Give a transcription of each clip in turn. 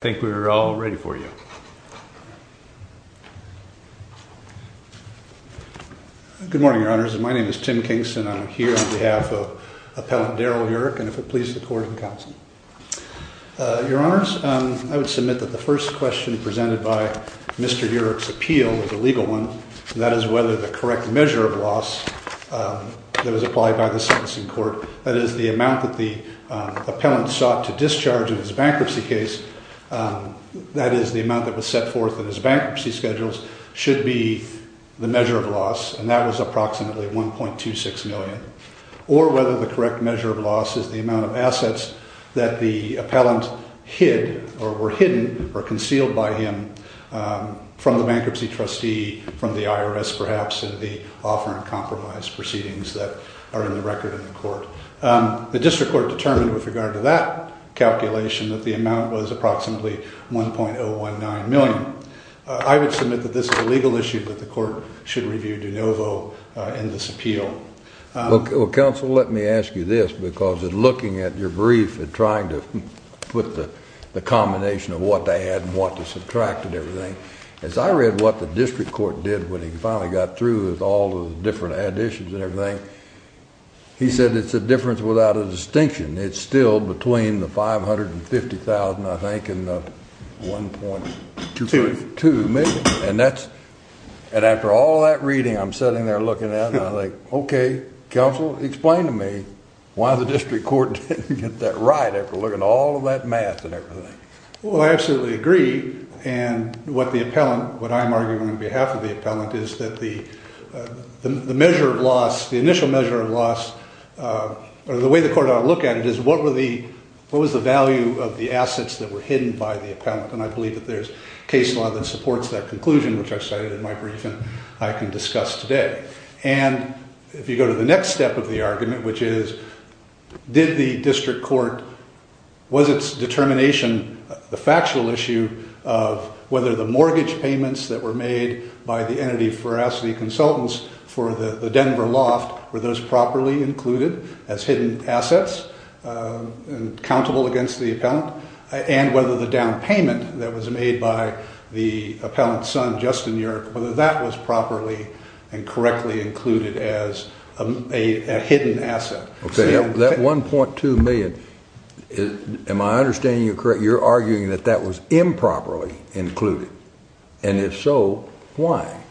I think we're all ready for you. Good morning, your honors. My name is Tim Kingston. I'm here on behalf of Appellant Daryl Yurek and if it please the court and counsel. Your honors, I would submit that the first question presented by Mr. Yurek's appeal was a legal one, and that is whether the correct measure of loss that was applied by the sentencing court, that is the amount that the that is the amount that was set forth in his bankruptcy schedules, should be the measure of loss, and that was approximately 1.26 million, or whether the correct measure of loss is the amount of assets that the appellant hid or were hidden or concealed by him from the bankruptcy trustee, from the IRS perhaps, in the offer and compromise proceedings that are in the record in the court. The district court determined with approximately 1.019 million. I would submit that this is a legal issue, but the court should review de novo in this appeal. Well, counsel, let me ask you this, because looking at your brief and trying to put the combination of what they had and what they subtracted and everything, as I read what the district court did when he finally got through with all the different additions and everything, he said it's a difference without a distinction. It's still between the 550,000, I think, and the 1.2 million, and after all that reading, I'm sitting there looking at it, and I think, okay, counsel, explain to me why the district court didn't get that right after looking at all of that math and everything. Well, I absolutely agree, and what the appellant, what I'm arguing on behalf of the appellant is that the measure of loss, the initial measure of loss, or the way the court ought to look at it is what were the, what was the value of the assets that were hidden by the appellant, and I believe that there's case law that supports that conclusion, which I cited in my brief and I can discuss today, and if you go to the next step of the argument, which is did the district court, was its determination the factual issue of whether the mortgage payments that were made by the entity of veracity consultants for the Denver loft were those properly included as hidden assets and countable against the appellant, and whether the down payment that was made by the appellant's son, Justin Yurick, whether that was properly and correctly included as a hidden asset. Okay, that 1.2 million, am I understanding you're arguing that that was improperly included, and if so, why?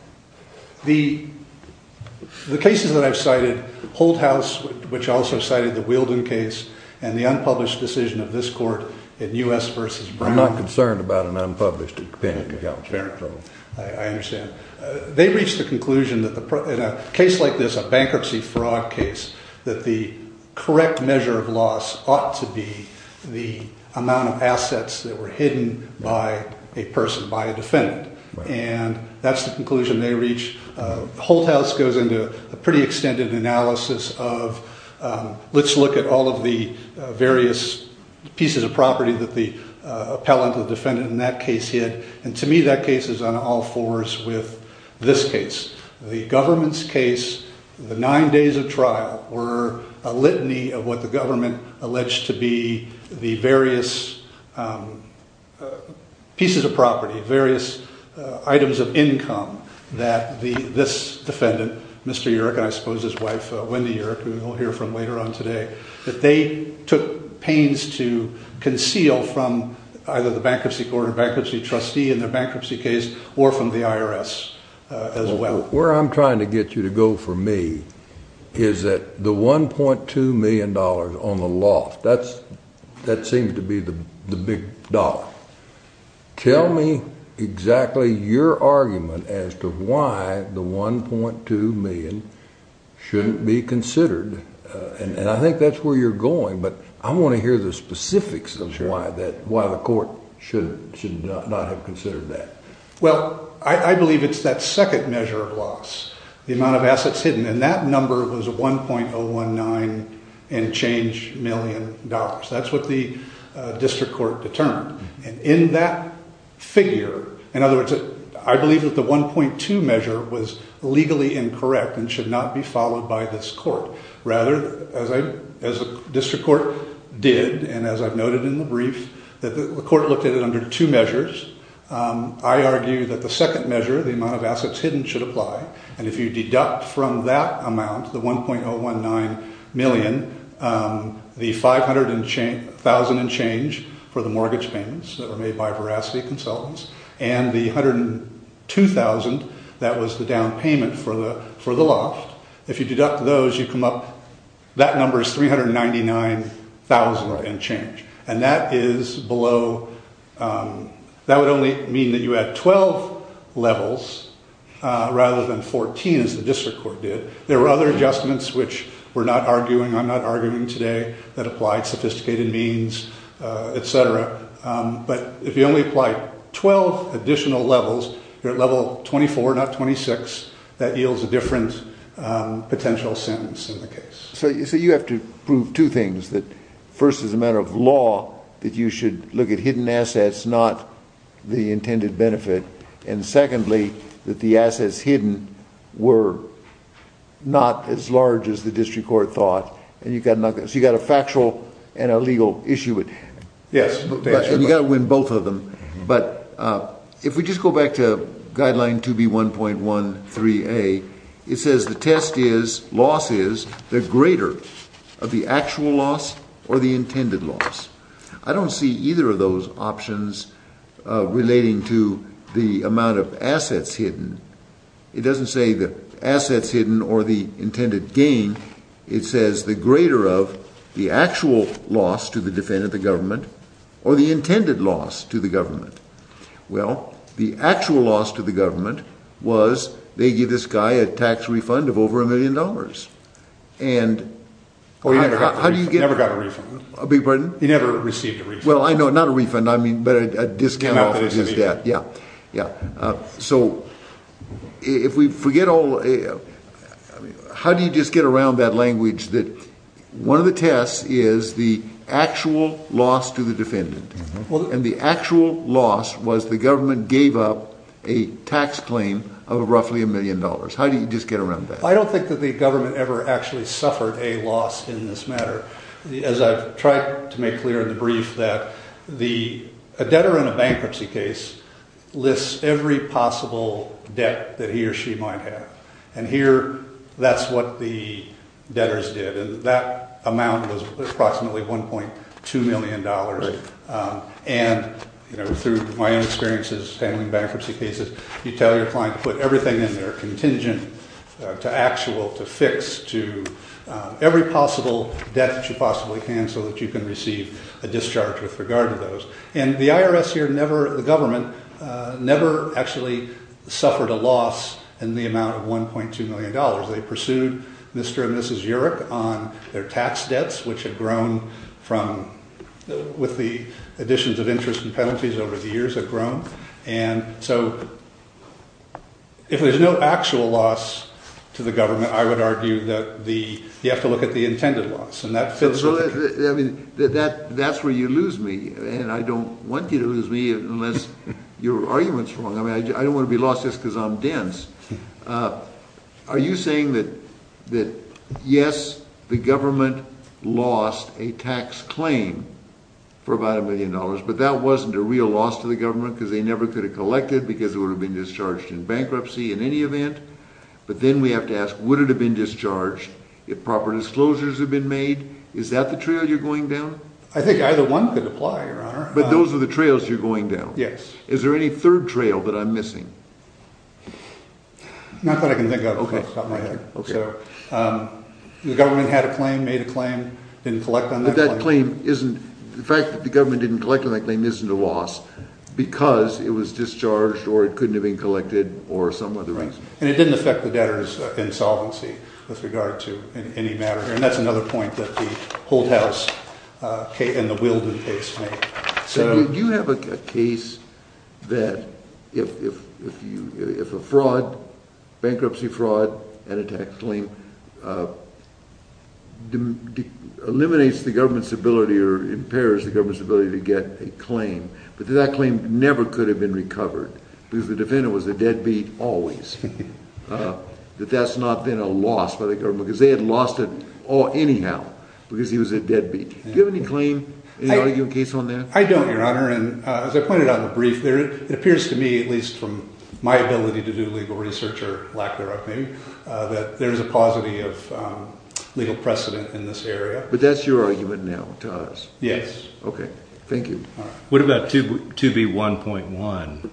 The cases that I've cited, Holdhouse, which also cited the Wielden case, and the unpublished decision of this court in U.S. versus Brown. I'm not concerned about an unpublished opinion. I understand. They reached the conclusion that in a case like this, a bankruptcy fraud case, that the correct measure of loss ought to be the amount of assets that were hidden by a person, by a defendant, and that's the conclusion they reached. Holdhouse goes into a pretty extended analysis of, let's look at all of the various pieces of property that the appellant, the defendant in that case hid, and to me, that case is on all fours with this case. The government's case, the nine days of alleged to be the various pieces of property, various items of income that this defendant, Mr. Yurick, and I suppose his wife, Wendy Yurick, who we'll hear from later on today, that they took pains to conceal from either the bankruptcy court or bankruptcy trustee in their bankruptcy case or from the IRS as well. Where I'm trying to get you to go for me is that the 1.2 million on the loss, that seems to be the big dollar. Tell me exactly your argument as to why the 1.2 million shouldn't be considered, and I think that's where you're going, but I want to hear the specifics of why the court should not have considered that. Well, I believe it's that second measure of loss, the amount of assets hidden, and that number was 1.019 and change million dollars. That's what the district court determined, and in that figure, in other words, I believe that the 1.2 measure was legally incorrect and should not be followed by this court. Rather, as a district court did, and as I've noted in the brief, that the court looked at it under two measures. I argue that the second measure, the amount of assets hidden, should apply, and if you deduct from that amount, the 1.019 million, the 500 and change, thousand and change for the mortgage payments that were made by veracity consultants, and the 102,000, that was the down payment for the loss. If you deduct those, you come up, that number is 399,000 and change, and that is below, that would only mean that you had 12 levels rather than 14, as the district court did. There were other adjustments, which we're not arguing, I'm not arguing today, that applied sophisticated means, etc., but if you only apply 12 additional levels, you're at level 24, not 26, that yields a different potential sentence in the case. So you have to prove two things. First, as a matter of law, that you should look at hidden assets, not the intended benefit, and secondly, that the assets hidden were not as large as the district court thought, and you've got to knock that, so you've got a factual and a legal issue at hand. Yes, and you've got to win both of them, but if we just go back to Guideline 2B1.13A, it says the test is, loss is, the greater of the actual loss or the intended loss. I don't see either of those options relating to the amount of assets hidden. It doesn't say the assets hidden or the intended gain, it says the greater of the actual loss to the defendant, the government, or the intended loss to the government. Well, the actual loss to the government was, they give this guy a tax refund of over a million dollars. Oh, he never got a refund. I beg your pardon? He never received a refund. Well, I know, not a refund, I mean, but a discount off of his debt. Yeah, yeah. So if we forget all, how do you just get around that language that one of the tests is the actual loss to the defendant, and the actual loss was the government gave up a tax claim of roughly a million dollars, how do you just get around that? I don't think that the government ever actually suffered a loss in this matter, as I've tried to make clear in the brief that a debtor in a bankruptcy case lists every possible debt that he or she might have, and here that's what the debtors did, that amount was approximately $1.2 million, and through my own experiences handling bankruptcy cases, you tell your client to put everything in there contingent to actual, to fix, to every possible debt that you possibly can so that you can receive a discharge with regard to those, and the IRS here never, the government, never actually suffered a loss in the amount of $1.2 on their tax debts, which have grown from, with the additions of interest and penalties over the years have grown, and so if there's no actual loss to the government, I would argue that the, you have to look at the intended loss, and that fits, I mean, that's where you lose me, and I don't want you to lose me unless your argument's wrong, I mean, I don't want to be lost just because I'm dense. Are you saying that, that yes, the government lost a tax claim for about $1 million, but that wasn't a real loss to the government because they never could have collected because it would have been discharged in bankruptcy in any event, but then we have to ask, would it have been discharged if proper disclosures had been made? Is that the trail you're going down? I think either one could apply, Your Honor. But those are the trails you're going down. Yes. Is there any third trail that I'm missing? Not that I can think of off the top of my head. Okay. So the government had a claim, made a claim, didn't collect on that claim. But that claim isn't, the fact that the government didn't collect on that claim isn't a loss because it was discharged or it couldn't have been collected or some other reason. Right, and it didn't affect the debtors' insolvency with regard to any matter here, and that's another point that the hold that if a fraud, bankruptcy fraud, and a tax claim eliminates the government's ability or impairs the government's ability to get a claim, but that claim never could have been recovered because the defendant was a deadbeat always, that that's not been a loss by the government because they had lost it anyhow because he was a deadbeat. Do you have any claim, any arguing case on that? I don't, Your Honor, and as I pointed out in the brief there, it appears to me, at least from my ability to do legal research or lack thereof maybe, that there's a positive legal precedent in this area. But that's your argument now to us? Yes. Okay. Thank you. All right. What about 2B1.1,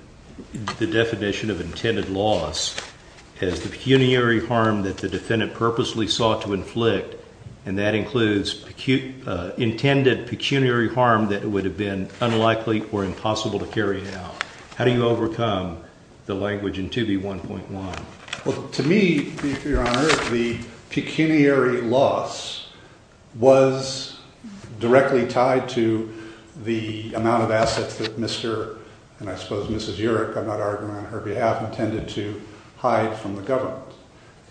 the definition of intended loss as the pecuniary harm that the defendant purposely sought to inflict, and that includes intended pecuniary harm that would have been unlikely or impossible to carry out. How do you overcome the language in 2B1.1? Well, to me, Your Honor, the pecuniary loss was directly tied to the amount of assets that Mr. and I suppose Mrs. Yerrick, I'm not arguing on her behalf, intended to hide from the government.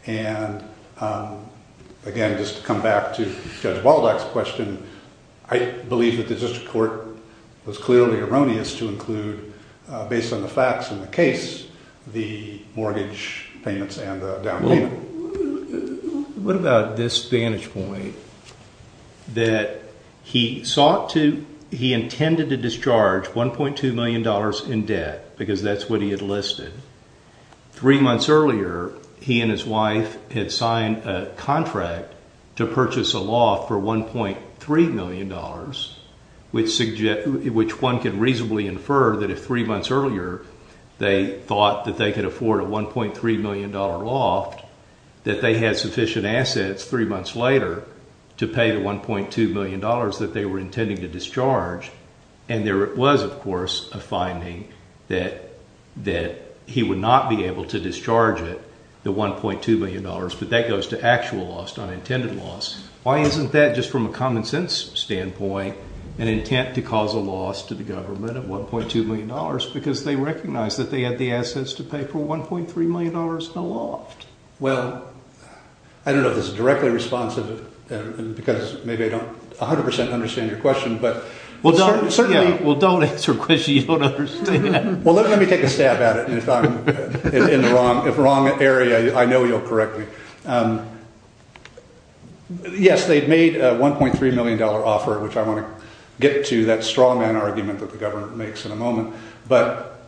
And again, just to come back to Judge Baldock's question, I believe that the district court was clearly erroneous to include, based on the facts in the case, the mortgage payments and the down payment. What about this vantage point that he sought to, he intended to discharge $1.2 million in debt because that's what he had listed. Three months earlier, he and his wife had signed a contract to purchase a loft for $1.3 million, which one could reasonably infer that if three months earlier they thought that they could afford a $1.3 million loft, that they had sufficient assets three months later to pay the $1.2 million that they were intending to discharge. And there was, of course, a finding that he would not be able to discharge it, the $1.2 million, but that goes to actual loss, not intended loss. Why isn't that, just from a common sense standpoint, an intent to cause a loss to the government of $1.2 million because they recognized that they had the assets to pay for $1.3 million in a loft? Well, I don't know if directly responsive, because maybe I don't 100% understand your question, but certainly... Well, don't answer a question you don't understand. Well, let me take a stab at it, and if I'm in the wrong area, I know you'll correct me. Yes, they'd made a $1.3 million offer, which I want to get to that strongman argument that the government makes in a moment, but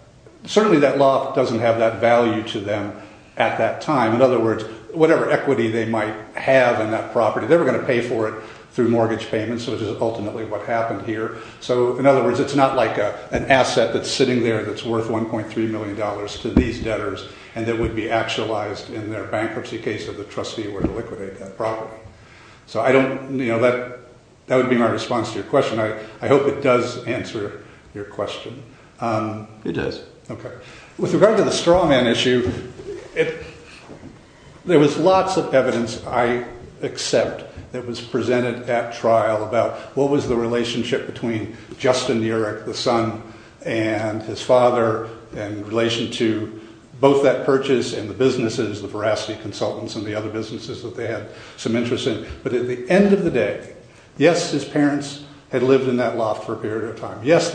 certainly that loft doesn't have that value to them at that time. In other words, whatever equity they might have in that property, they were going to pay for it through mortgage payments, which is ultimately what happened here. So, in other words, it's not like an asset that's sitting there that's worth $1.3 million to these debtors, and that would be actualized in their bankruptcy case if the trustee were to liquidate that property. So, that would be my response to your question. I hope it does answer your question. It does. Okay. With regard to the strawman issue, there was lots of evidence, I accept, that was presented at trial about what was the relationship between Justin Uric, the son, and his father in relation to both that purchase and the businesses, the Veracity Consultants and the other businesses that they had some interest in. But at the end of the day, yes, his parents had lived in that because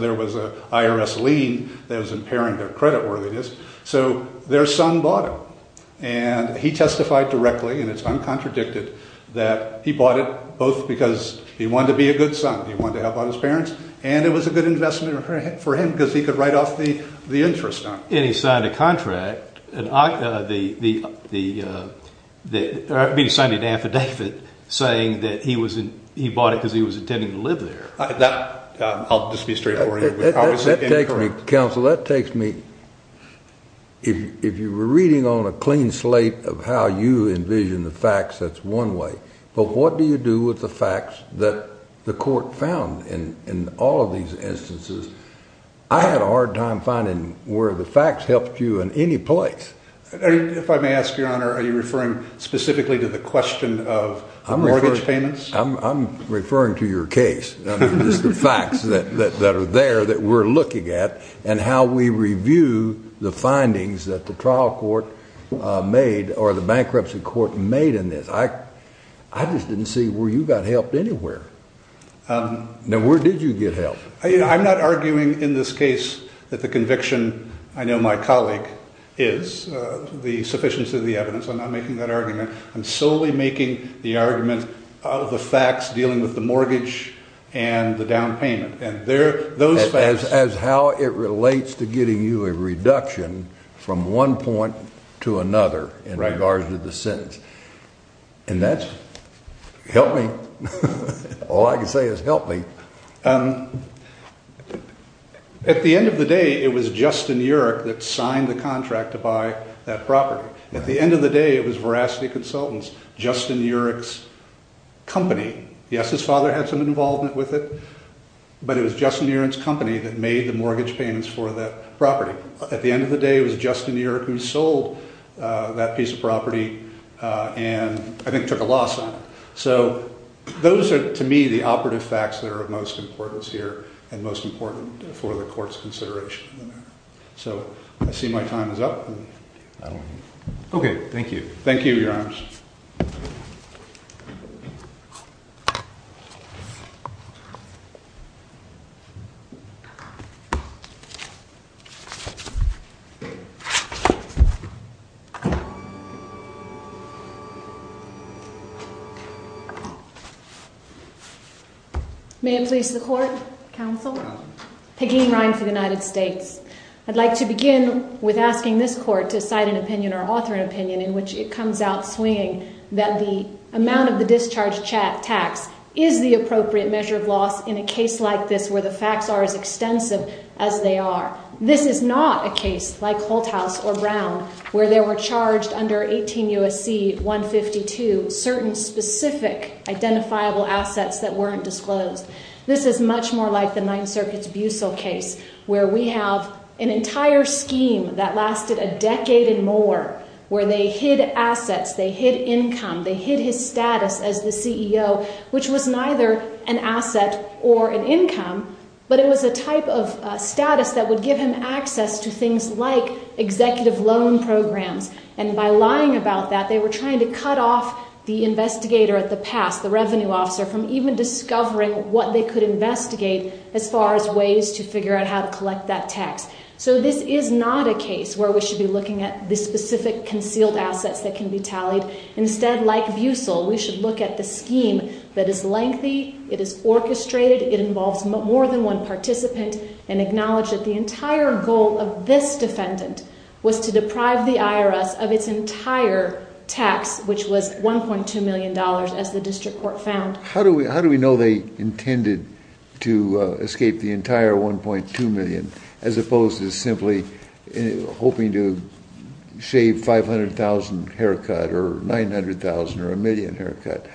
there was an IRS lien that was impairing their creditworthiness. So, their son bought it, and he testified directly, and it's uncontradicted, that he bought it both because he wanted to be a good son, he wanted to help out his parents, and it was a good investment for him because he could write off the interest on it. And he signed an affidavit saying that he bought it because he was intending to live there. I'll just be straight forward. That takes me, counsel, that takes me, if you were reading on a clean slate of how you envision the facts, that's one way. But what do you do with the facts that the court found in all of these instances? I had a hard time finding where the facts helped you in any place. If I may ask, Your Honor, are you referring specifically to the question of mortgage payments? I'm referring to your case, the facts that are there that we're looking at, and how we review the findings that the trial court made, or the bankruptcy court made in this. I just didn't see where you got help anywhere. Now, where did you get help? I'm not arguing in this case that the conviction, I know my colleague is, the sufficiency of the evidence. I'm not arguing the facts dealing with the mortgage and the down payment. As how it relates to getting you a reduction from one point to another in regards to the sentence. And that's, help me, all I can say is help me. At the end of the day, it was Justin Urich that signed the contract to buy that property. At the company, yes, his father had some involvement with it, but it was Justin Urich's company that made the mortgage payments for that property. At the end of the day, it was Justin Urich who sold that piece of property and I think took a loss on it. So those are, to me, the operative facts that are of most importance here and most important for the court's consideration. So I see my time is up. Okay, thank you. Thank you, Your Honors. Thank you. May it please the court. Counsel. Peggy Ryan for the United States. I'd like to begin with asking this court to cite an opinion or author an opinion in which it comes out swinging that the amount of discharge tax is the appropriate measure of loss in a case like this where the facts are as extensive as they are. This is not a case like Holthaus or Brown where there were charged under 18 U.S.C. 152 certain specific identifiable assets that weren't disclosed. This is much more like the Ninth Circuit's Bussell case where we have an entire scheme that lasted a decade and more where they hid assets, they hid income, they hid his status as the CEO which was neither an asset or an income but it was a type of status that would give him access to things like executive loan programs and by lying about that they were trying to cut off the investigator at the pass, the revenue officer, from even discovering what they could investigate as far as ways to figure out how to collect that tax. So this is not a case where we should be looking at the specific concealed assets that can be tallied. Instead like Bussell we should look at the scheme that is lengthy, it is orchestrated, it involves more than one participant and acknowledge that the entire goal of this defendant was to deprive the IRS of its entire tax which was 1.2 million dollars as the district court found. How do we how do we know they intended to escape the entire 1.2 million as opposed to simply hoping to shave 500,000 haircut or 900,000 or a million haircut?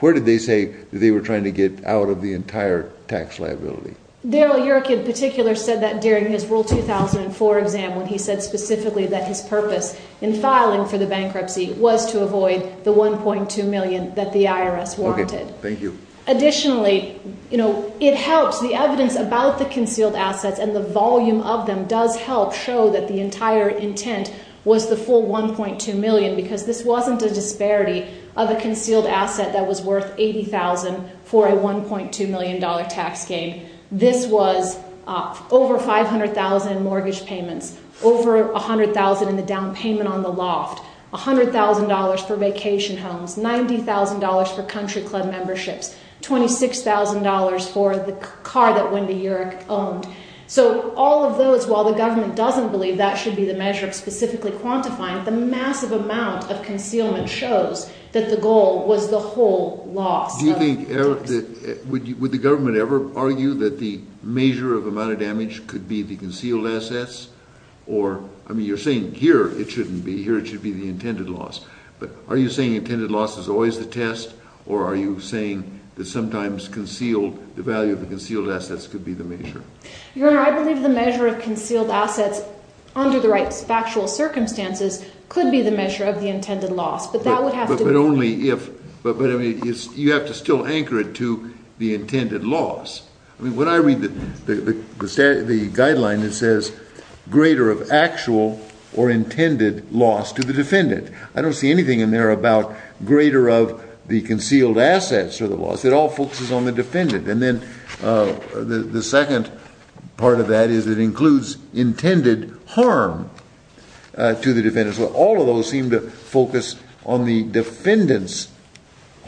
Where did they say that they were trying to get out of the entire tax liability? Daryl Yerrick in particular said that during his rule 2004 exam when he said specifically that his purpose in filing for the bankruptcy was to avoid the 1.2 million that the IRS wanted. Okay, thank you. Additionally you know it helps the evidence about the concealed assets and the volume of them does help show that the entire intent was the full 1.2 million because this wasn't a disparity of a concealed asset that was worth 80,000 for a 1.2 million dollar tax gain. This was over 500,000 mortgage payments, over 100,000 in the down payment on the loft, 100,000 dollars for vacation homes, 90,000 dollars for country club memberships, 26,000 dollars for the car that Wendy Yerrick owned. So all of those while the government doesn't believe that should be the measure of specifically quantifying the massive amount of concealment shows that the goal was the whole loss. Do you think would the government ever argue that the measure of amount of damage could be the concealed assets or I mean you're saying here it shouldn't be here it should be the intended loss but are you saying intended loss is always the test or are you saying that sometimes concealed the value of the concealed assets could be the measure? Your honor I believe the measure of concealed assets under the right factual circumstances could be the measure of the intended loss but that would have to be. But only if but but I mean it's you have to still anchor it to the intended loss. I mean when I read the the guideline it says greater of actual or intended loss to the defendant. I don't see anything in there about greater of the concealed assets or the loss. It all focuses on the defendant and then the second part of that is it includes intended harm to the defendant. So all of those seem to focus on the defendant's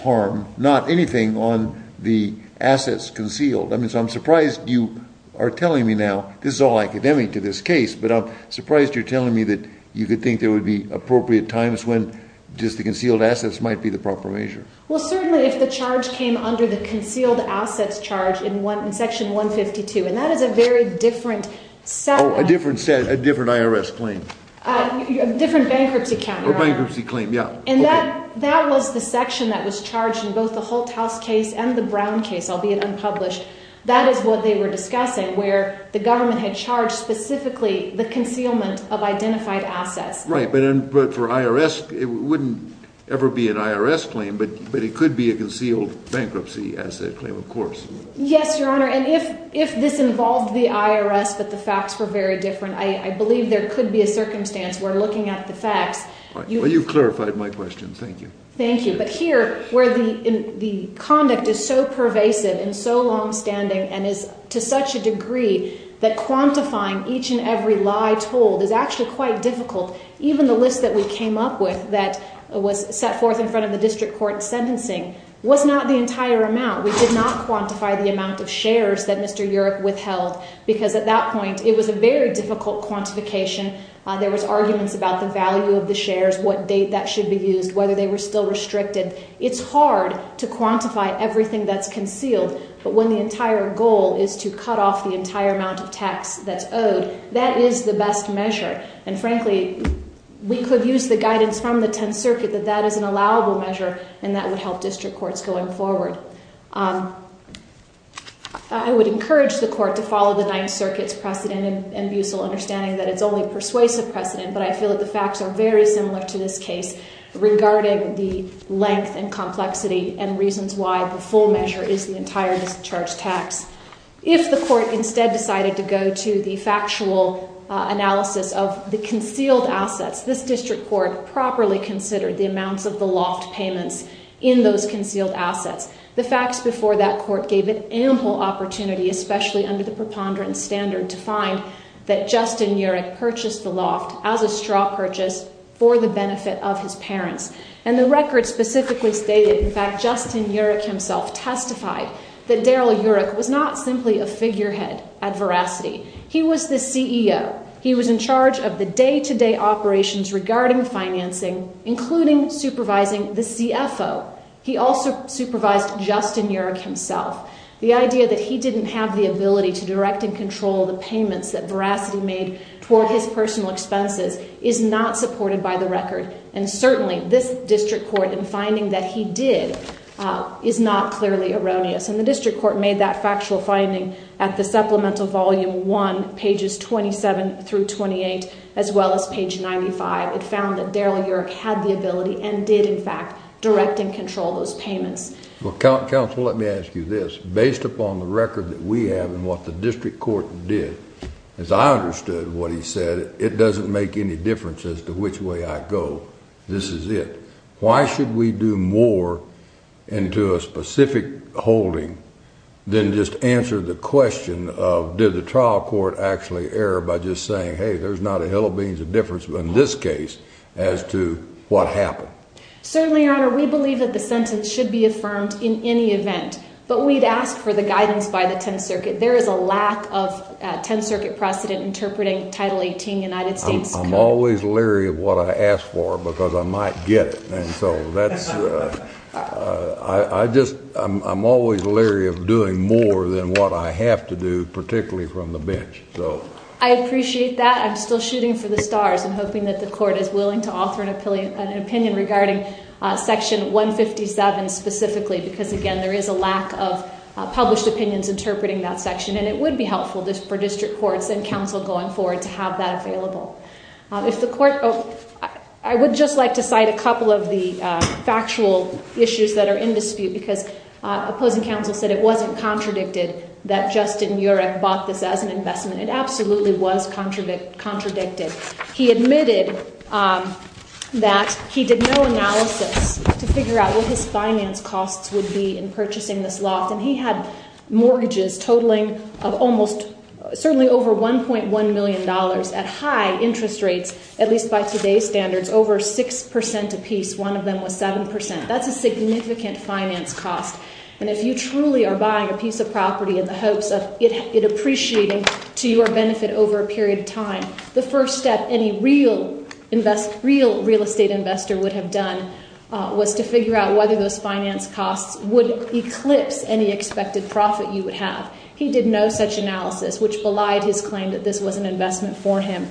harm not anything on the assets concealed. I mean so I'm surprised you are telling me now this is all academic to this case but I'm surprised you're telling me that you could think there would be appropriate times when just the concealed assets might be the proper measure. Well certainly if the charge came under the concealed assets charge in one in section 152 and that is a very different set. Oh a different set a different IRS claim. A different bankruptcy counter. A bankruptcy claim yeah. And that that was the section that was charged in both the where the government had charged specifically the concealment of identified assets. Right but then but for IRS it wouldn't ever be an IRS claim but but it could be a concealed bankruptcy asset claim of course. Yes your honor and if if this involved the IRS but the facts were very different I believe there could be a circumstance where looking at the facts. Well you've clarified my question thank you. Thank you but here where the in the conduct is so pervasive and so long and is to such a degree that quantifying each and every lie told is actually quite difficult. Even the list that we came up with that was set forth in front of the district court sentencing was not the entire amount. We did not quantify the amount of shares that Mr. Europe withheld because at that point it was a very difficult quantification. There was arguments about the value of the shares. What date that should be used. Whether they were still restricted. It's hard to quantify everything that's concealed but when the entire goal is to cut off the entire amount of tax that's owed that is the best measure. And frankly we could use the guidance from the 10th circuit that that is an allowable measure and that would help district courts going forward. I would encourage the court to follow the 9th circuit's precedent and bucel understanding that it's only persuasive precedent but I feel that the facts are very similar to this case regarding the length and complexity and reasons why the full measure is the entire discharge tax. If the court instead decided to go to the factual analysis of the concealed assets this district court properly considered the amounts of the loft payments in those concealed assets. The facts before that court gave it ample opportunity especially under the preponderance standard to purchase the loft as a straw purchase for the benefit of his parents. And the record specifically stated in fact Justin Urick himself testified that Darrell Urick was not simply a figurehead at Veracity. He was the CEO. He was in charge of the day-to-day operations regarding financing including supervising the CFO. He also supervised Justin Urick himself. The idea that he didn't have the ability to direct and control the payments that Veracity made toward his personal expenses is not supported by the record. And certainly this district court in finding that he did is not clearly erroneous. And the district court made that factual finding at the supplemental volume 1 pages 27 through 28 as well as page 95. It found that Darrell Urick had the ability and did in fact direct and control those payments. Well counsel let me ask you this. Based upon the evidence that we have and what the district court did, as I understood what he said, it doesn't make any difference as to which way I go. This is it. Why should we do more into a specific holding than just answer the question of did the trial court actually err by just saying hey there's not a hell of beans of difference in this case as to what happened. Certainly your honor we believe the sentence should be affirmed in any event. But we'd ask for the guidance by the 10th circuit. There is a lack of 10th circuit precedent interpreting title 18 United States. I'm always leery of what I ask for because I might get it. And so that's I just I'm always leery of doing more than what I have to do particularly from the bench. So I appreciate that. I'm still shooting for the stars and hoping that the court is willing to offer an opinion regarding section 157 specifically because again there is a lack of published opinions interpreting that section. And it would be helpful for district courts and counsel going forward to have that available. If the court, I would just like to cite a couple of the factual issues that are in dispute because opposing counsel said it wasn't contradicted that Justin Urecht bought this as an investment. It absolutely was contradicted. He admitted that he did no analysis to figure out what his finance costs would be in purchasing this loft. And he had mortgages totaling of almost certainly over 1.1 million dollars at high interest rates at least by today's standards over six percent apiece. One of them was seven percent. That's a significant finance cost. And if you truly are a piece of property in the hopes of it appreciating to your benefit over a period of time, the first step any real real estate investor would have done was to figure out whether those finance costs would eclipse any expected profit you would have. He did no such analysis which belied his claim that this was an investment for him.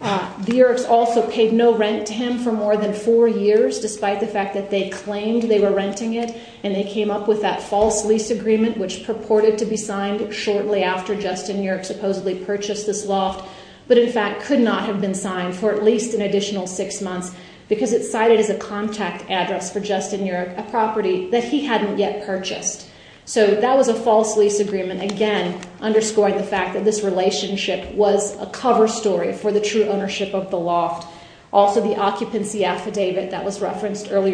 The Urechts also paid no rent to him for more than four years despite the fact that they claimed they were renting it. And they came up with that false lease agreement which purported to be signed shortly after Justin Urecht supposedly purchased this loft but in fact could not have been signed for at least an additional six months because it's cited as a contact address for Justin Urecht, a property that he hadn't yet purchased. So that was a false lease agreement again underscoring the fact that this relationship was a cover story for the true ownership of the loft. Also the occupancy affidavit that was primary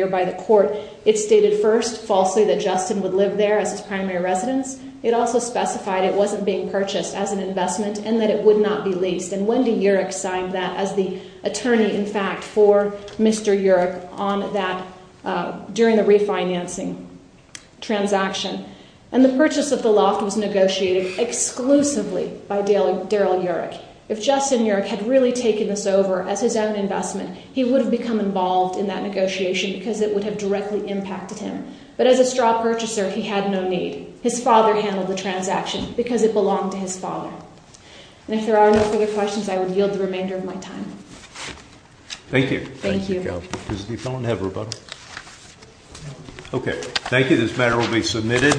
residence, it also specified it wasn't being purchased as an investment and that it would not be leased. And Wendy Urecht signed that as the attorney in fact for Mr. Urecht on that during the refinancing transaction. And the purchase of the loft was negotiated exclusively by Daryl Urecht. If Justin Urecht had really taken this over as his own investment, he would have become involved in that negotiation because it would have directly impacted him. But as a his father handled the transaction because it belonged to his father. And if there are no further questions, I would yield the remainder of my time. Thank you. Thank you. Okay, thank you. This matter will be submitted.